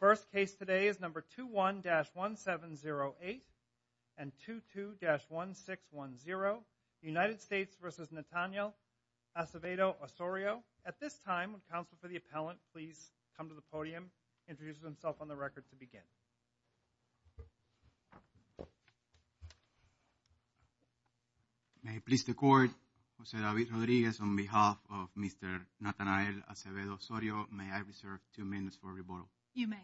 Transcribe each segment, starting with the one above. First case today is number 21-1708 and 22-1610, United States v. Nataniel Acevedo-Osorio. At this time, would counsel for the appellant please come to the podium, introduce himself on the record to begin. May I please the court, Jose David Rodriguez on behalf of Mr. Nataniel Acevedo-Osorio, may I reserve two minutes for rebuttal? You may.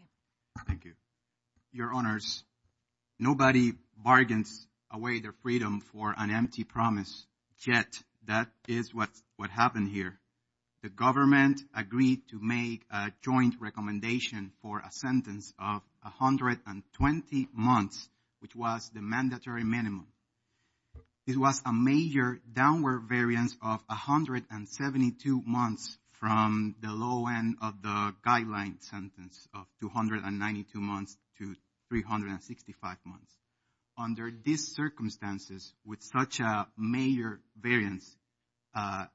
Thank you. Your honors, nobody bargains away their freedom for an empty promise, yet that is what happened here. The government agreed to make a joint recommendation for a sentence of 120 months, which was the mandatory minimum. It was a major downward variance of 172 months from the low end of the guideline sentence of 292 months to 365 months. Under these circumstances, with such a major variance at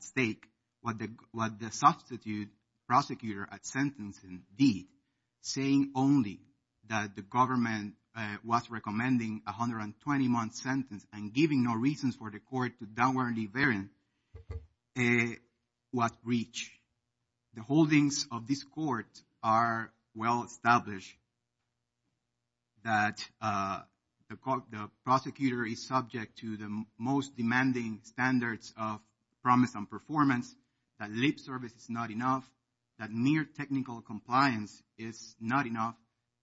stake, what the substitute prosecutor at sentencing did, saying only that the government was recommending 120 month sentence and giving no reasons for the court to downwardly variance, was breached. The holdings of this court are well established that the prosecutor is subject to the most severe technical compliance, it's not enough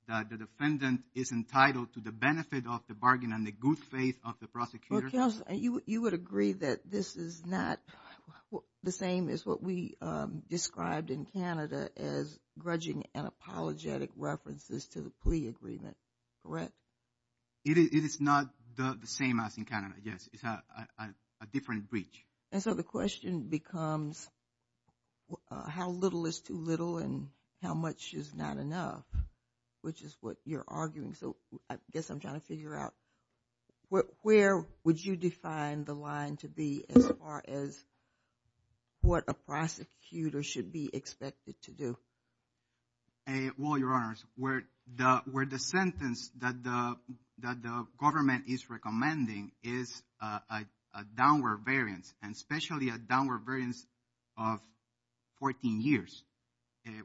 that the defendant is entitled to the benefit of the bargain and the good faith of the prosecutor. You would agree that this is not the same as what we described in Canada as grudging and apologetic references to the plea agreement, correct? It is not the same as in Canada, yes, it's a different breach. And so the question becomes how little is too little and how much is not enough, which is what you're arguing. So I guess I'm trying to figure out where would you define the line to be as far as what a prosecutor should be expected to do? Well, Your Honors, where the sentence that the government is recommending is a downward variance and especially a downward variance of 14 years,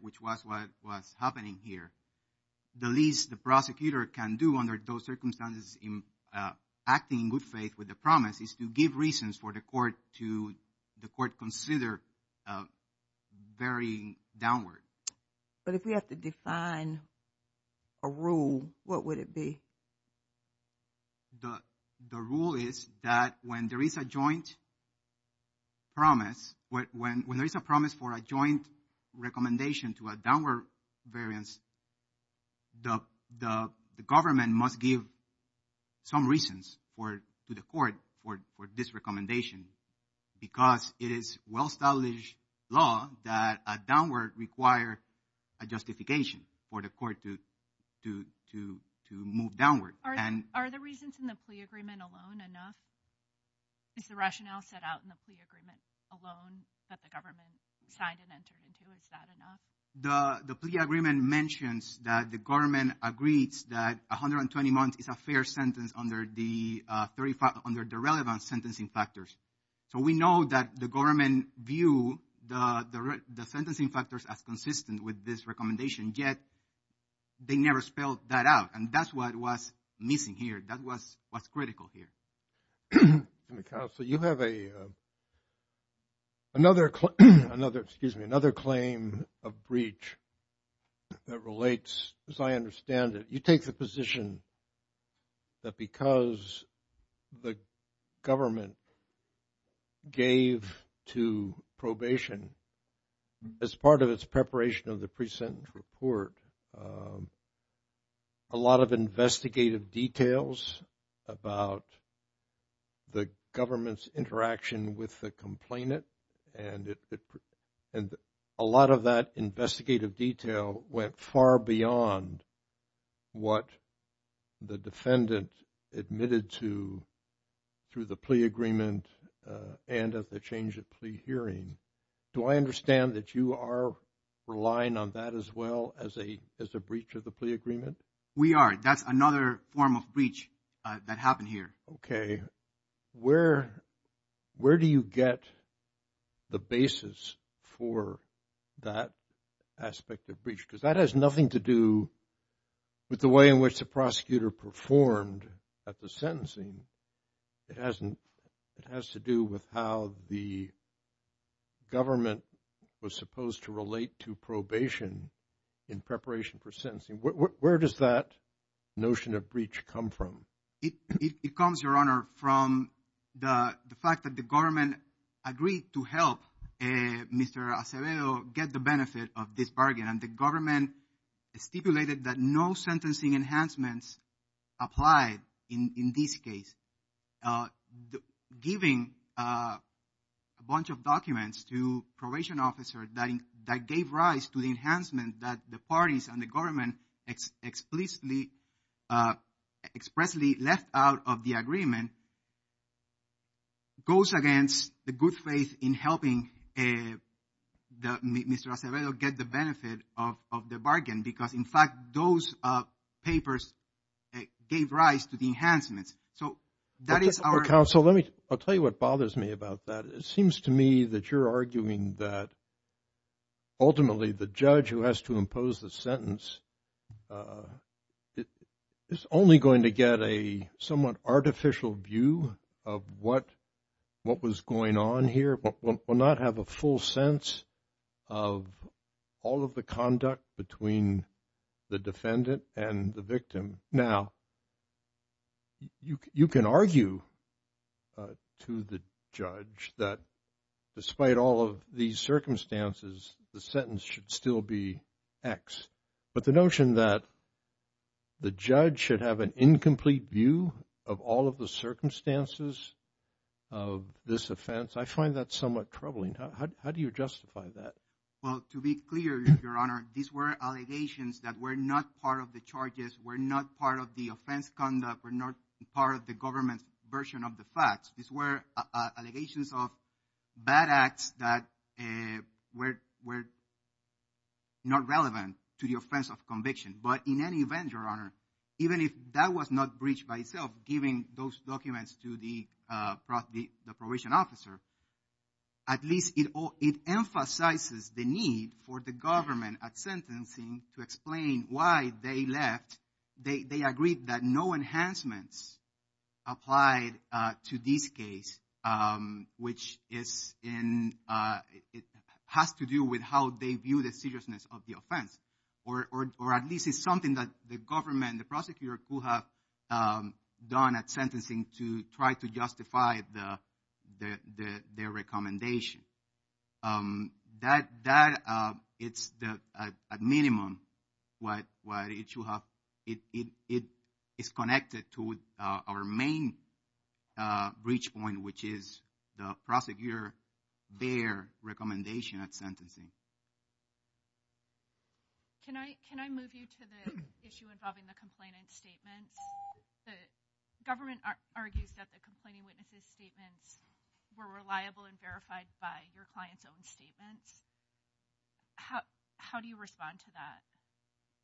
which was what was happening here. The least the prosecutor can do under those circumstances in acting in good faith with the promise is to give reasons for the court to consider varying downward. But if we have to define a rule, what would it be? Well, the rule is that when there is a joint promise, when there is a promise for a joint recommendation to a downward variance, the government must give some reasons to the court for this recommendation because it is well-established law that a downward require a justification for the court to move downward. Are the reasons in the plea agreement alone enough? Is the rationale set out in the plea agreement alone that the government signed and entered into? Is that enough? The plea agreement mentions that the government agrees that 120 months is a fair sentence under the relevant sentencing factors. So we know that the government view the sentencing factors as consistent with this recommendation, yet they never spelled that out. And that's what was missing here. That was what's critical here. Counsel, you have another claim of breach that relates, as I understand it. You take the position that because the government gave to probation as part of its preparation of the pre-sentence report, a lot of investigative details about the government's interaction with the complainant, and a lot of that investigative detail went far beyond what the defendant admitted to through the plea agreement and at the change of plea hearing. Do I understand that you are relying on that as well as a breach of the plea agreement? We are. That's another form of breach that happened here. Okay. Where do you get the basis for that aspect of breach? Because that has nothing to do with the way in which the prosecutor performed at the sentencing. It has to do with how the government was supposed to relate to probation in preparation for sentencing. Where does that notion of breach come from? It comes, Your Honor, from the fact that the government agreed to help Mr. Acevedo get the benefit of this bargain. And the government stipulated that no sentencing enhancements applied in this case. Giving a bunch of documents to probation officers that gave rise to the enhancement that the parties and the government explicitly, expressly left out of the agreement goes against the good faith in helping Mr. Acevedo get the benefit of the bargain. Because in fact, those papers gave rise to the enhancements. So that is our- Counsel, let me, I'll tell you what bothers me about that. It seems to me that you're arguing that ultimately the judge who has to impose the sentence is only going to get a somewhat artificial view of what was going on here, will not have a full sense of all of the conduct between the defendant and the victim. Now, you can argue to the judge that despite all of these circumstances, the sentence should still be X. But the notion that the judge should have an incomplete view of all of the circumstances of this offense, I find that somewhat troubling. How do you justify that? Well, to be clear, Your Honor, these were allegations that were not part of the charges, were not part of the offense conduct, were not part of the government's version of the facts. These were allegations of bad acts that were not relevant to the offense of conviction. But in any event, Your Honor, even if that was not breached by itself, given those documents to the probation officer, at least it emphasizes the need for the government at sentencing to explain why they left. They agreed that no enhancements applied to this case, which has to do with how they view the seriousness of the offense, or at least it's something that the government, the prosecutor could have done at sentencing to try to justify their recommendation. That, it's at minimum, what it should have, it is connected to our main breach point, which is the prosecutor, their recommendation at sentencing. Can I move you to the issue involving the complainant's statements? The government argues that the complainant's statements were reliable and verified by your client's own statements. How do you respond to that?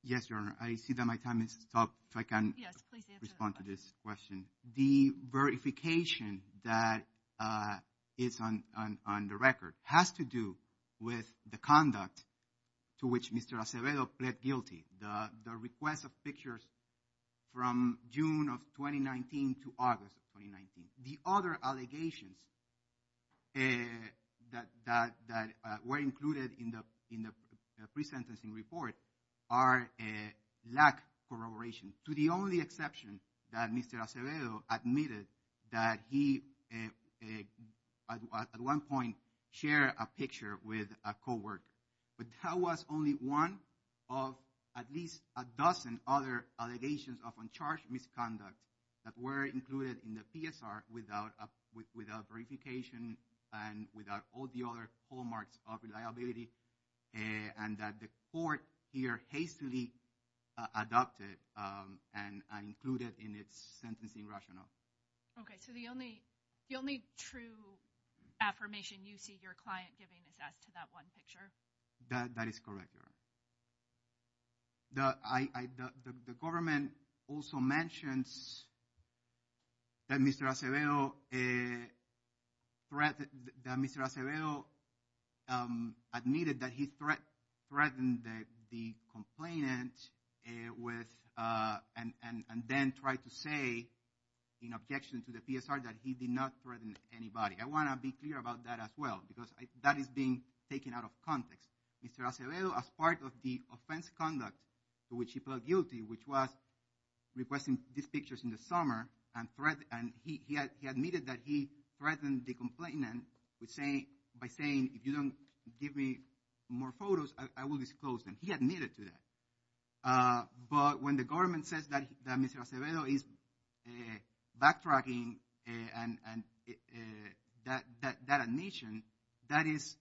Yes, Your Honor. I see that my time has stopped, so I can respond to this question. The verification that is on the record has to do with the conduct to which Mr. Acevedo pled guilty, the request of pictures from June of 2019 to August of 2019. The other allegations that were included in the pre-sentencing report lack corroboration, to the only exception that Mr. Acevedo admitted that he, at one point, shared a picture with a coworker. But that was only one of at least a dozen other allegations of uncharged misconduct that were included in the PSR without verification and without all the other hallmarks of reliability, and that the court here hastily adopted and included in its sentencing rationale. Okay, so the only true affirmation you see your client giving is as to that one picture? That is correct, Your Honor. The government also mentions that Mr. Acevedo threatened, that Mr. Acevedo admitted that he threatened the complainant and then tried to say, in objection to the PSR, that he did not threaten anybody. I want to be clear about that as well, because that is being taken out of context. Mr. Acevedo, as part of the offense conduct to which he pled guilty, which was requesting these pictures in the summer, and he admitted that he threatened the complainant by saying, if you don't give me more photos, I will disclose them. He admitted to that. But when the government says that Mr. Acevedo is backtracking that admission, that is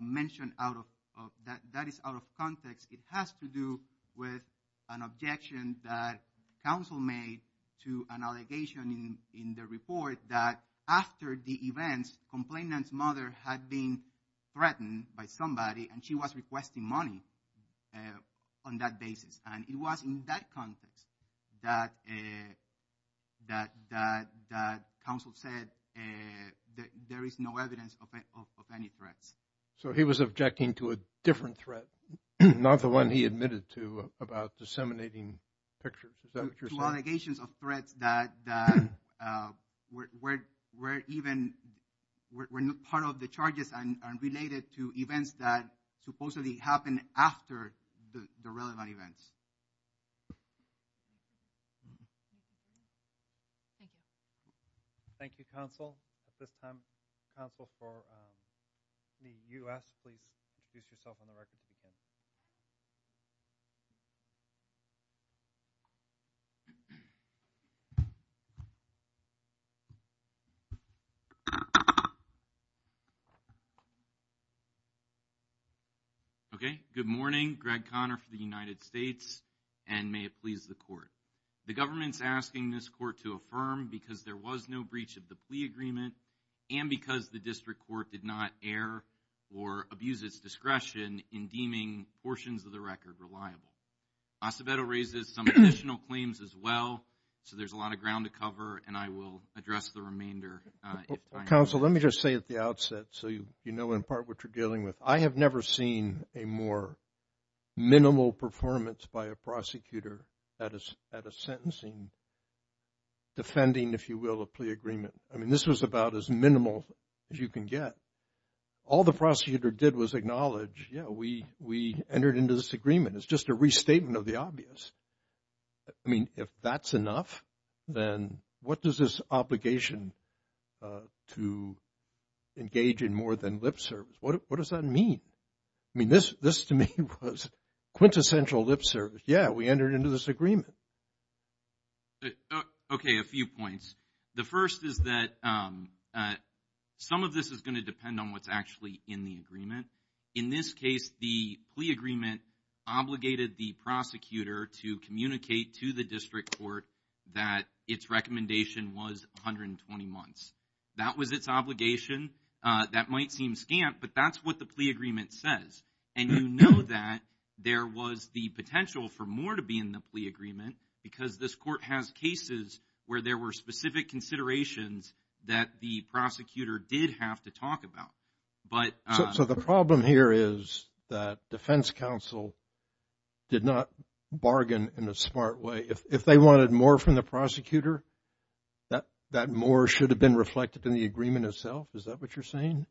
mentioned out of context. It has to do with an objection that counsel made to an allegation in the report that after the events, complainant's mother had been threatened by somebody and she was requesting money on that basis. And it was in that context that counsel said that there is no evidence of any threats. So he was objecting to a different threat, not the one he admitted to about disseminating pictures. Is that what you're saying? There were allegations of threats that were even part of the charges and related to events that supposedly happened after the relevant events. Thank you. Thank you, counsel. At this time, counsel for the U.S., please introduce yourself on the record if you can. Okay, good morning, Greg Conner for the United States, and may it please the court. The government's asking this court to affirm because there was no breach of the plea agreement and because the district court did not err or abuse its discretion in deeming portions of the record reliable. Acevedo raises some additional claims as well, so there's a lot of ground to cover, and I will address the remainder if I have to. Counsel, let me just say at the outset, so you know in part what you're dealing with, I have never seen a more minimal performance by a prosecutor at a sentencing, defending, if you will, a plea agreement. I mean, this was about as minimal as you can get. All the prosecutor did was acknowledge, yeah, we entered into this agreement. It's just a restatement of the obvious. I mean, if that's enough, then what does this obligation to engage in more than lip service, what does that mean? I mean, this to me was quintessential lip service. Yeah, we entered into this agreement. Okay, a few points. The first is that some of this is going to depend on what's actually in the agreement. In this case, the plea agreement obligated the prosecutor to communicate to the district court that its recommendation was 120 months. That was its obligation. That might seem scant, but that's what the plea agreement says, and you know that there was the potential for more to be in the plea agreement, because this court has cases where there were specific considerations that the prosecutor did have to talk about. So, the problem here is that defense counsel did not bargain in a smart way. If they wanted more from the prosecutor, that more should have been reflected in the agreement itself. Is that what you're saying?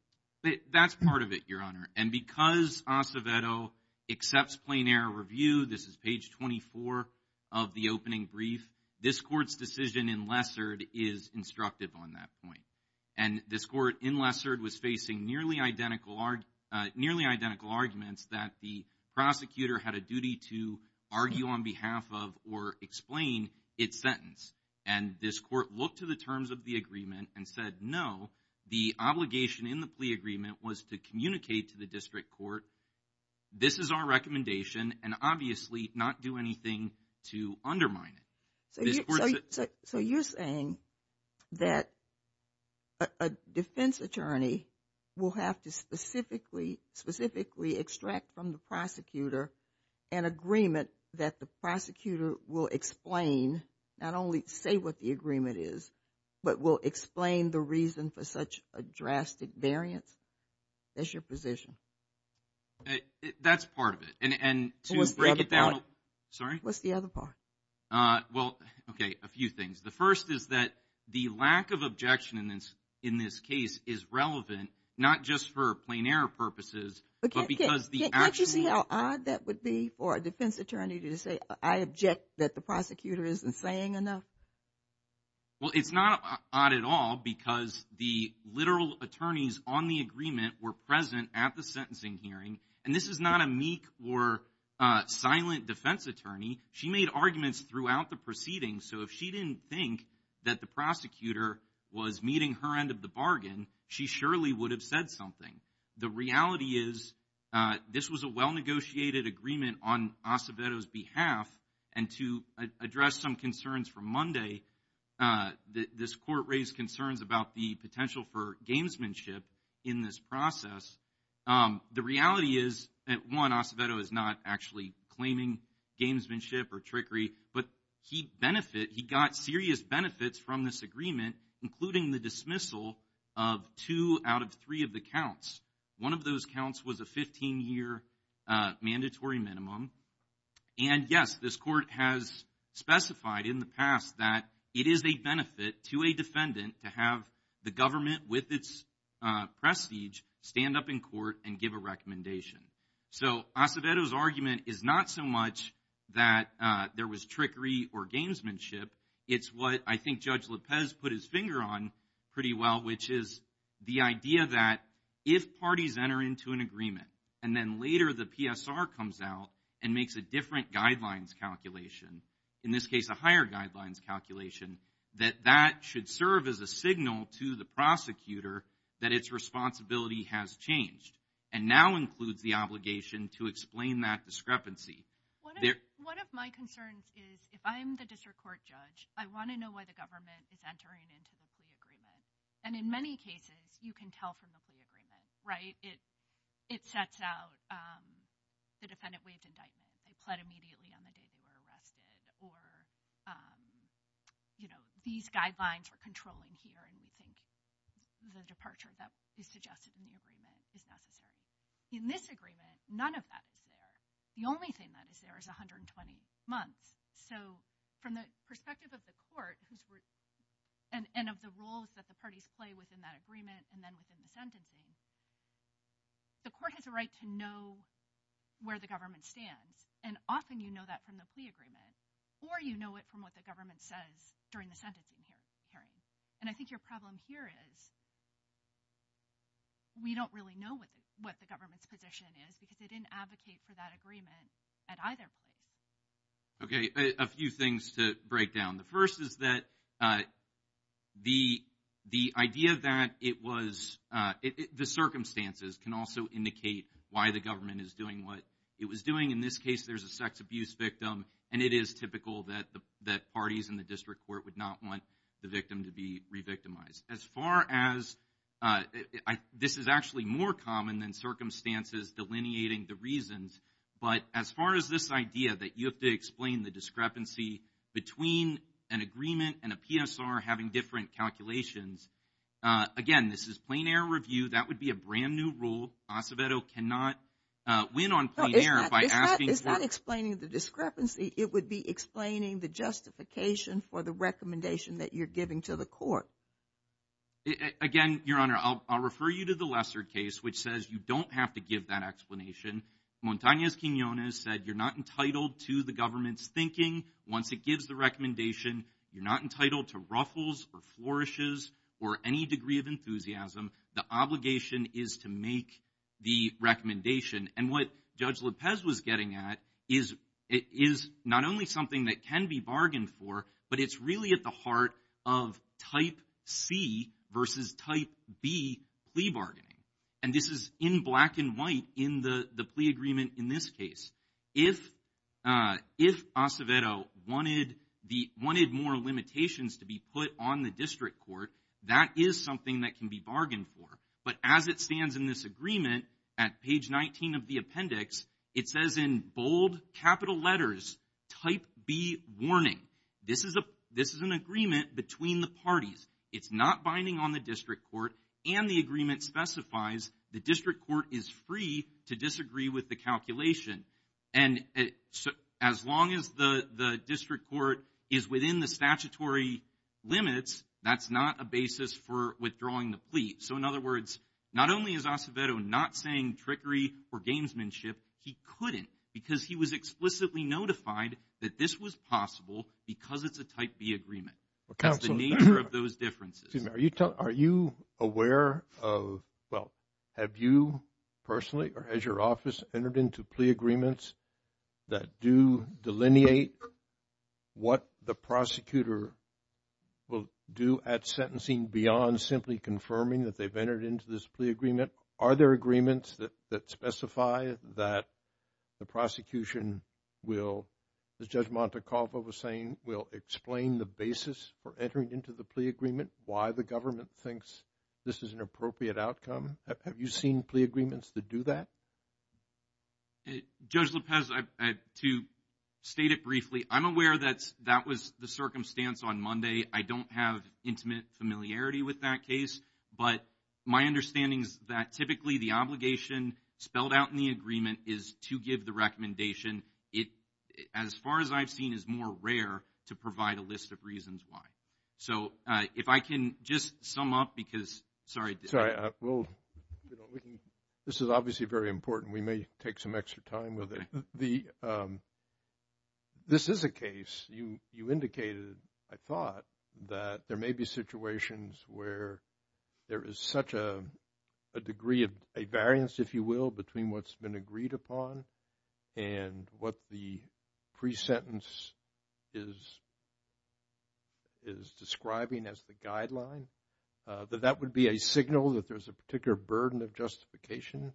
That's part of it, Your Honor, and because Acevedo accepts plain error review, this is page 24 of the opening brief, this court's decision in Lessard is instructive on that point. And this court in Lessard was facing nearly identical arguments that the prosecutor had a duty to argue on behalf of or explain its sentence, and this court looked to the terms of the agreement and said, no, the obligation in the plea agreement was to communicate to the district court, this is our recommendation, and obviously not do anything to undermine it. So, you're saying that a defense attorney will have to specifically, specifically extract from the prosecutor an agreement that the prosecutor will explain, not only say what the agreement is, but will explain the reason for such a drastic variance? That's your position? That's part of it. And to break it down. What's the other part? Sorry? Well, okay. A few things. The first is that the lack of objection in this case is relevant, not just for plain error purposes, but because the actual- Can't you see how odd that would be for a defense attorney to say, I object that the prosecutor isn't saying enough? Well, it's not odd at all because the literal attorneys on the agreement were present at the sentencing hearing, and this is not a meek or silent defense attorney. She made arguments throughout the proceedings, so if she didn't think that the prosecutor was meeting her end of the bargain, she surely would have said something. The reality is, this was a well-negotiated agreement on Acevedo's behalf, and to address some concerns from Monday, this court raised concerns about the potential for gamesmanship in this process. The reality is that, one, Acevedo is not actually claiming gamesmanship or trickery, but he got serious benefits from this agreement, including the dismissal of two out of three of the counts. One of those counts was a 15-year mandatory minimum, and yes, this court has specified in the past that it is a benefit to a defendant to have the government with its prestige stand up in court and give a recommendation. So Acevedo's argument is not so much that there was trickery or gamesmanship, it's what I think Judge Lopez put his finger on pretty well, which is the idea that if parties enter into an agreement, and then later the PSR comes out and makes a different guidelines calculation, in this case, a higher guidelines calculation, that that should serve as a signal to the prosecutor that its responsibility has changed, and now includes the obligation to explain that discrepancy. One of my concerns is, if I'm the district court judge, I want to know why the government is entering into the plea agreement, and in many cases, you can tell from the plea agreement, right? It sets out the defendant waived indictment, they pled immediately on the day they were acquitted. I don't think the departure that is suggested in the agreement is necessary. In this agreement, none of that is there. The only thing that is there is 120 months, so from the perspective of the court, and of the roles that the parties play within that agreement, and then within the sentencing, the court has a right to know where the government stands, and often you know that from the plea agreement, or you know it from what the government says during the sentencing hearing, and I think your problem here is, we don't really know what the government's position is, because they didn't advocate for that agreement at either point. Okay, a few things to break down. The first is that the idea that it was, the circumstances can also indicate why the government is doing what it was doing. In this case, there's a sex abuse victim, and it is typical that parties in the district court would not want the victim to be re-victimized. As far as, this is actually more common than circumstances delineating the reasons, but as far as this idea that you have to explain the discrepancy between an agreement and a PSR having different calculations, again, this is plain error review, that would be a brand new rule. Acevedo cannot win on plain error by asking for- Again, Your Honor, I'll refer you to the Lesser case, which says you don't have to give that explanation. Montañez-Quinonez said you're not entitled to the government's thinking once it gives the recommendation. You're not entitled to ruffles, or flourishes, or any degree of enthusiasm. The obligation is to make the recommendation, and what Judge Lopez was getting at, is not only something that can be bargained for, but it's really at the heart of type C versus type B plea bargaining. This is in black and white in the plea agreement in this case. If Acevedo wanted more limitations to be put on the district court, that is something that can be bargained for, but as it stands in this agreement, at page 19 of the appendix, it says in bold capital letters, type B warning. This is an agreement between the parties. It's not binding on the district court, and the agreement specifies the district court is free to disagree with the calculation. As long as the district court is within the statutory limits, that's not a basis for withdrawing the plea. So in other words, not only is Acevedo not saying trickery or gamesmanship, he couldn't because he was explicitly notified that this was possible because it's a type B agreement. That's the nature of those differences. Are you aware of, well, have you personally, or has your office entered into plea agreements that do delineate what the prosecutor will do at sentencing beyond simply confirming that they've entered into this plea agreement? Are there agreements that specify that the prosecution will, as Judge Montecalvo was saying, will explain the basis for entering into the plea agreement, why the government thinks this is an appropriate outcome? Have you seen plea agreements that do that? Judge Lopez, to state it briefly, I'm aware that that was the circumstance on Monday. I don't have intimate familiarity with that case, but my understanding is that typically the obligation spelled out in the agreement is to give the recommendation. As far as I've seen, it's more rare to provide a list of reasons why. So if I can just sum up because, sorry. Sorry, well, this is obviously very important. We may take some extra time with it. This is a case, you indicated, I thought, that there may be situations where there is such a degree of variance, if you will, between what's been agreed upon and what the pre-sentence is describing as the guideline, that that would be a signal that there's a particular burden of justification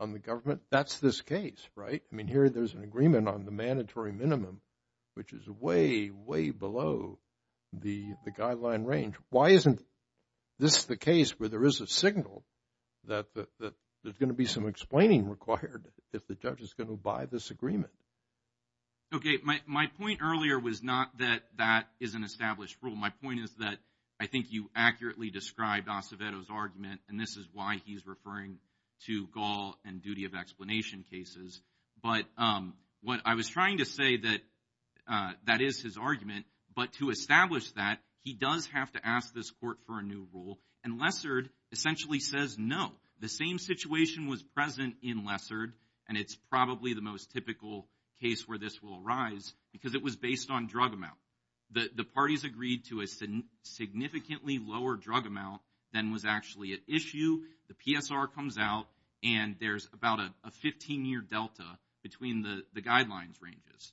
on the government. That's this case, right? I mean, here there's an agreement on the mandatory minimum, which is way, way below the guideline range. Why isn't this the case where there is a signal that there's going to be some explaining required if the judge is going to buy this agreement? Okay, my point earlier was not that that is an established rule. My point is that I think you accurately described Acevedo's argument, and this is why he's referring to Gaul and duty of explanation cases. But what I was trying to say that that is his argument, but to establish that, he does have to ask this court for a new rule, and Lessard essentially says no. The same situation was present in Lessard, and it's probably the most typical case where this will arise, because it was based on drug amount. The parties agreed to a significantly lower drug amount than was actually at issue. The PSR comes out, and there's about a 15-year delta between the guidelines ranges.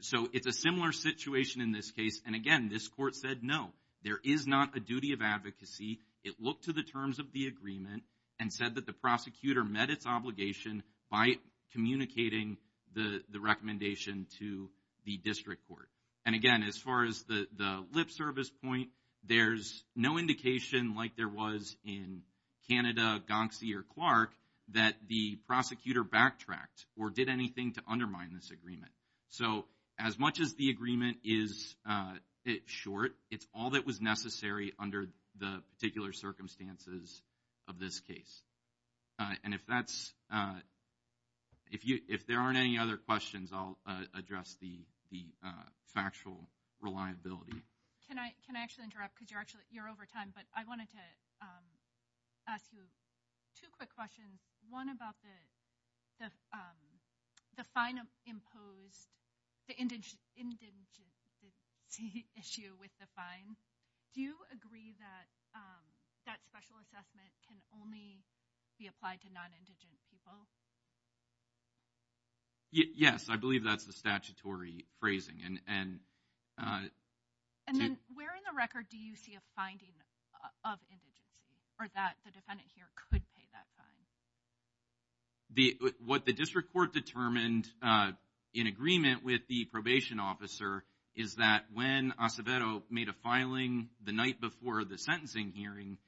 So it's a similar situation in this case, and again, this court said no. There is not a duty of advocacy. It looked to the terms of the agreement and said that the prosecutor met its obligation by communicating the recommendation to the district court. And again, as far as the lip service point, there's no indication like there was in Canada, Gonksy, or Clark, that the prosecutor backtracked or did anything to undermine this agreement. So as much as the agreement is short, it's all that was necessary under the particular circumstances of this case. And if that's, if you, if there aren't any other questions, I'll address the factual reliability. Can I, can I actually interrupt, because you're actually, you're over time, but I wanted to ask you two quick questions. One about the, the, the fine imposed, the indigent, indigency issue with the fine. Do you agree that that special assessment can only be applied to non-indigent people? Yes, I believe that's the statutory phrasing. And then where in the record do you see a finding of indigency, or that the defendant here could pay that fine? What the district court determined in agreement with the probation officer is that when Acevedo made a filing the night before the sentencing hearing,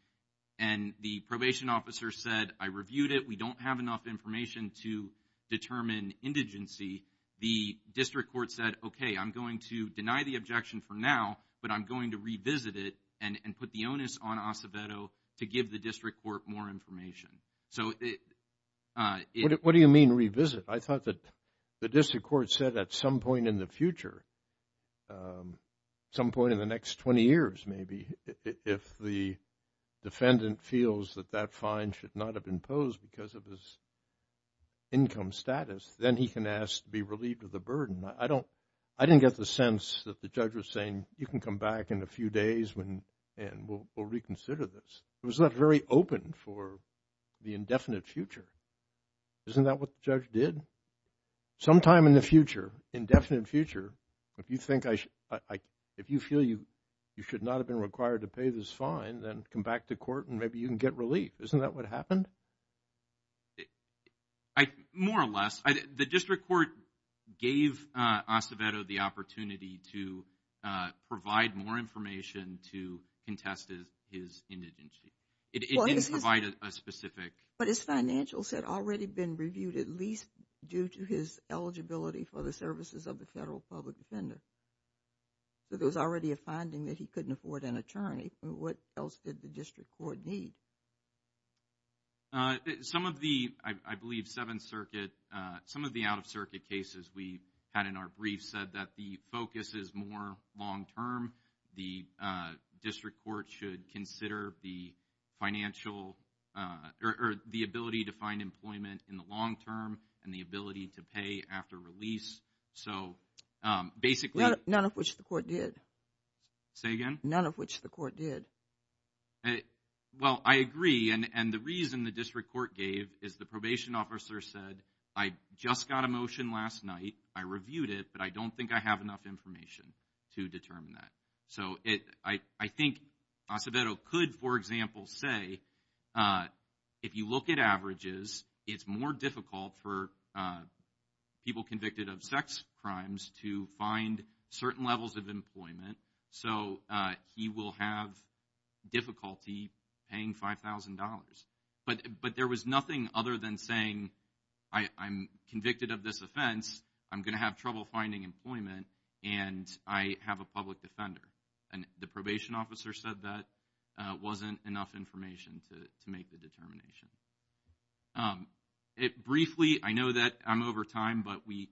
and the probation officer said, I reviewed it, we don't have enough information to determine indigency, the district court said, okay, I'm going to deny the objection for now, but I'm going to revisit it, and put the onus on Acevedo to give the district court more information. So it, it. What do you mean revisit? I thought that the district court said at some point in the future, some point in the next 20 years maybe, if the defendant feels that that fine should not have been imposed because of his income status, then he can ask to be relieved of the burden. I don't, I didn't get the sense that the judge was saying, you can come back in a few days when, and we'll reconsider this. It was not very open for the indefinite future. Isn't that what the judge did? Sometime in the future, indefinite future, if you think I, if you feel you, you should not have been required to pay this fine, then come back to court and maybe you can get relief. Isn't that what happened? I, more or less, I, the district court gave Acevedo the opportunity to provide more information to contest his, his indigency. It didn't provide a specific. But his financials had already been reviewed, at least due to his eligibility for the services of the federal public defender, but there was already a finding that he couldn't afford an attorney. And what else did the district court need? Some of the, I believe, Seventh Circuit, some of the out-of-circuit cases we had in our brief said that the focus is more long-term. The district court should consider the financial, or the ability to find employment in the long-term and the ability to pay after release. So basically. None of which the court did. Say again? None of which the court did. Well, I agree. And the reason the district court gave is the probation officer said, I just got a motion last night. I reviewed it, but I don't think I have enough information to determine that. So it, I, I think Acevedo could, for example, say, if you look at averages, it's more difficult for people convicted of sex crimes to find certain levels of employment. So he will have difficulty paying $5,000. But there was nothing other than saying, I'm convicted of this offense, I'm going to have trouble finding employment, and I have a public defender. And the probation officer said that wasn't enough information to make the determination. It briefly, I know that I'm over time, but we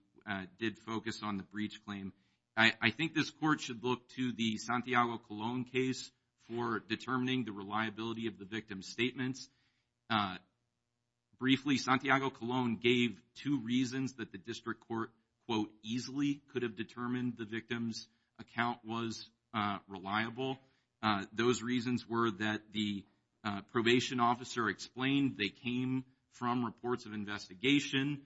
did focus on the breach claim. I, I think this court should look to the Santiago-Colón case for determining the reliability of the victim's statements. Briefly, Santiago-Colón gave two reasons that the district court, quote, easily could have determined the victim's account was reliable. Those reasons were that the probation officer explained they came from reports of investigation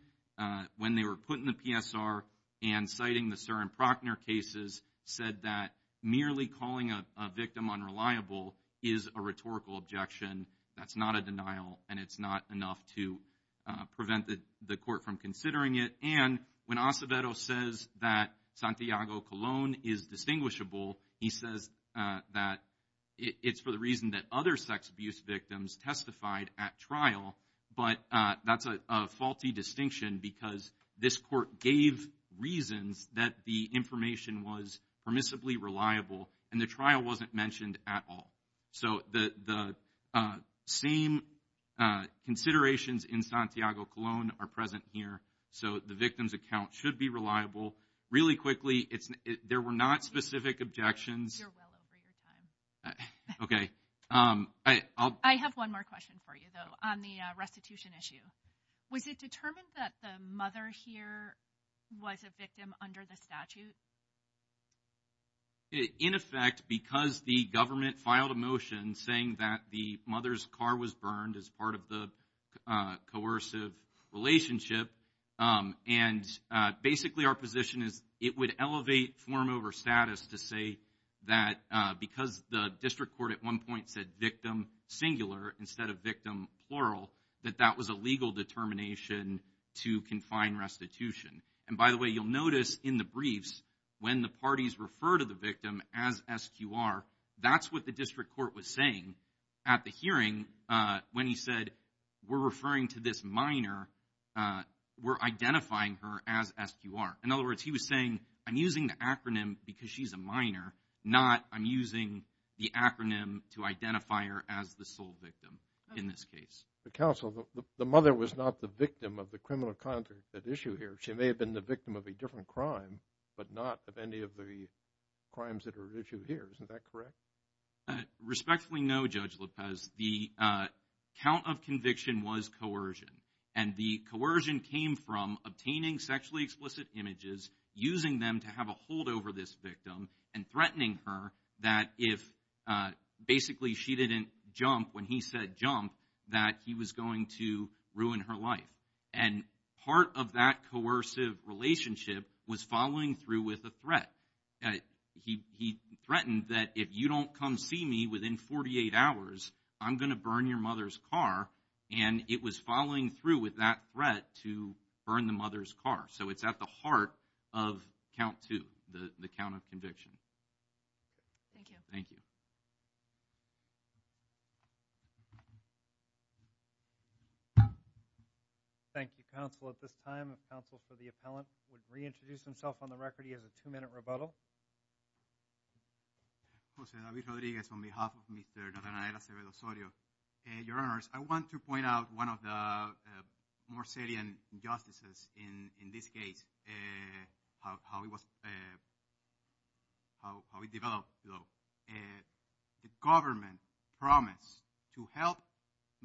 when they were put in the PSR and citing the Surin-Prochner cases said that merely calling a victim unreliable is a rhetorical objection. That's not a denial, and it's not enough to prevent the court from considering it. And when Acevedo says that Santiago-Colón is distinguishable, he says that it's for the reason that other sex abuse victims testified at trial, but that's a, a faulty distinction because this court gave reasons that the information was permissibly reliable and the trial wasn't mentioned at all. So the, the same considerations in Santiago-Colón are present here. So the victim's account should be reliable. Really quickly, it's, there were not specific objections. You're well over your time. Okay. I, I'll. I have one more question for you, though, on the restitution issue. Was it determined that the mother here was a victim under the statute? In effect, because the government filed a motion saying that the mother's car was burned as part of the coercive relationship, and basically our position is it would elevate form over status to say that because the district court at one point said victim singular instead of victim plural, that that was a legal determination to confine restitution. And by the way, you'll notice in the briefs when the parties refer to the victim as SQR, that's what the district court was saying at the hearing when he said, we're referring to this minor, we're identifying her as SQR. In other words, he was saying, I'm using the acronym because she's a minor, not I'm using the acronym to identify her as the sole victim in this case. The counsel, the mother was not the victim of the criminal conduct at issue here. She may have been the victim of a different crime, but not of any of the crimes that are issued here. Isn't that correct? Respectfully, no, Judge Lopez. The count of conviction was coercion, and the coercion came from obtaining sexually explicit images, using them to have a hold over this victim and threatening her that if basically she didn't jump when he said jump, that he was going to ruin her life. And part of that coercive relationship was following through with a threat. He threatened that if you don't come see me within 48 hours, I'm going to burn your mother's car. And it was following through with that threat to burn the mother's car. So it's at the heart of Count Two, the count of conviction. Thank you. Thank you. Thank you, counsel. At this time, counsel for the appellant would reintroduce himself on the record. He has a two-minute rebuttal. Jose David Rodriguez, on behalf of Mr. Donald Cerezo-Sorio. Your Honors, I want to point out one of the more salient injustices in this case, how it was, how it developed. The government promised to help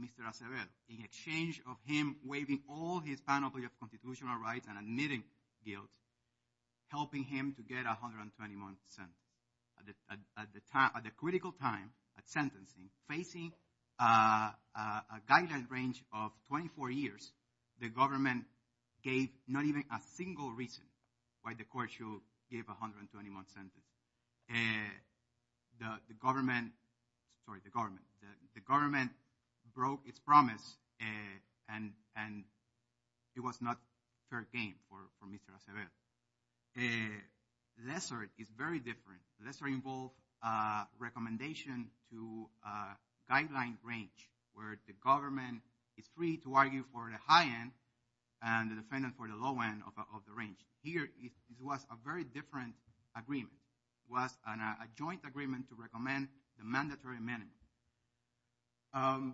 Mr. Acevedo in exchange of him waiving all his panoply of constitutional rights and admitting guilt, helping him to get 121 cents at the critical time at sentencing, facing a guideline range of 24 years, the government gave not even a single reason why the court should give 121 cents. The government, sorry, the government, the government broke its promise and it was not fair game for Mr. Acevedo. Lessor is very different. Lessor involved a recommendation to a guideline range where the government is free to argue for the high end and the defendant for the low end of the range. Here it was a very different agreement, it was a joint agreement to recommend the mandatory amendment. And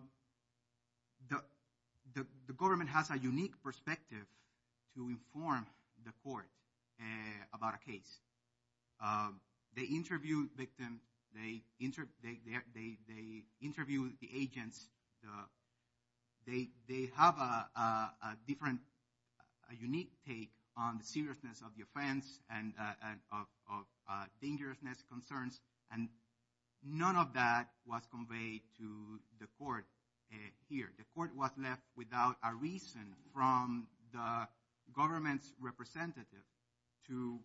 the government has a unique perspective to inform the court about a case. They interview victims, they interview the agents, they have a different, a unique take on the seriousness of the offense and of dangerousness concerns and none of that was conveyed to the court here. The court was left without a reason from the government's representative to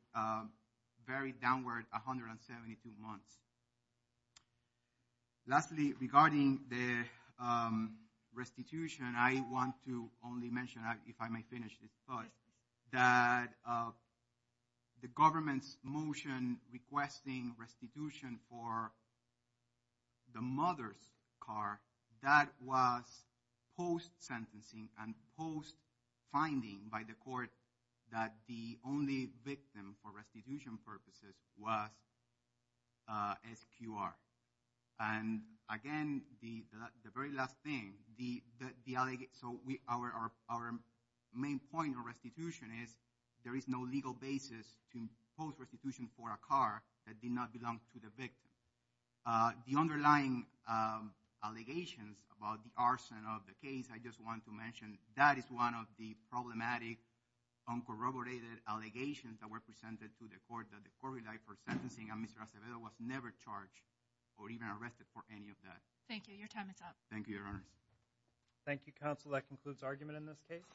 very downward 172 months. Lastly, regarding the restitution, I want to only mention, if I may finish this thought, that the government's motion requesting restitution for the mother's car, that was post sentencing and post finding by the court that the only victim for restitution purposes was SQR. And again, the very last thing, so our main point of restitution is there is no legal basis to post restitution for a car that did not belong to the victim. The underlying allegations about the arson of the case, I just want to mention, that is one of the problematic uncorroborated allegations that were presented to the court that the court relied for sentencing and Mr. Acevedo was never charged or even arrested for any of that. Thank you. Your time is up. Thank you, Your Honor. Thank you, Counsel. That concludes argument in this case.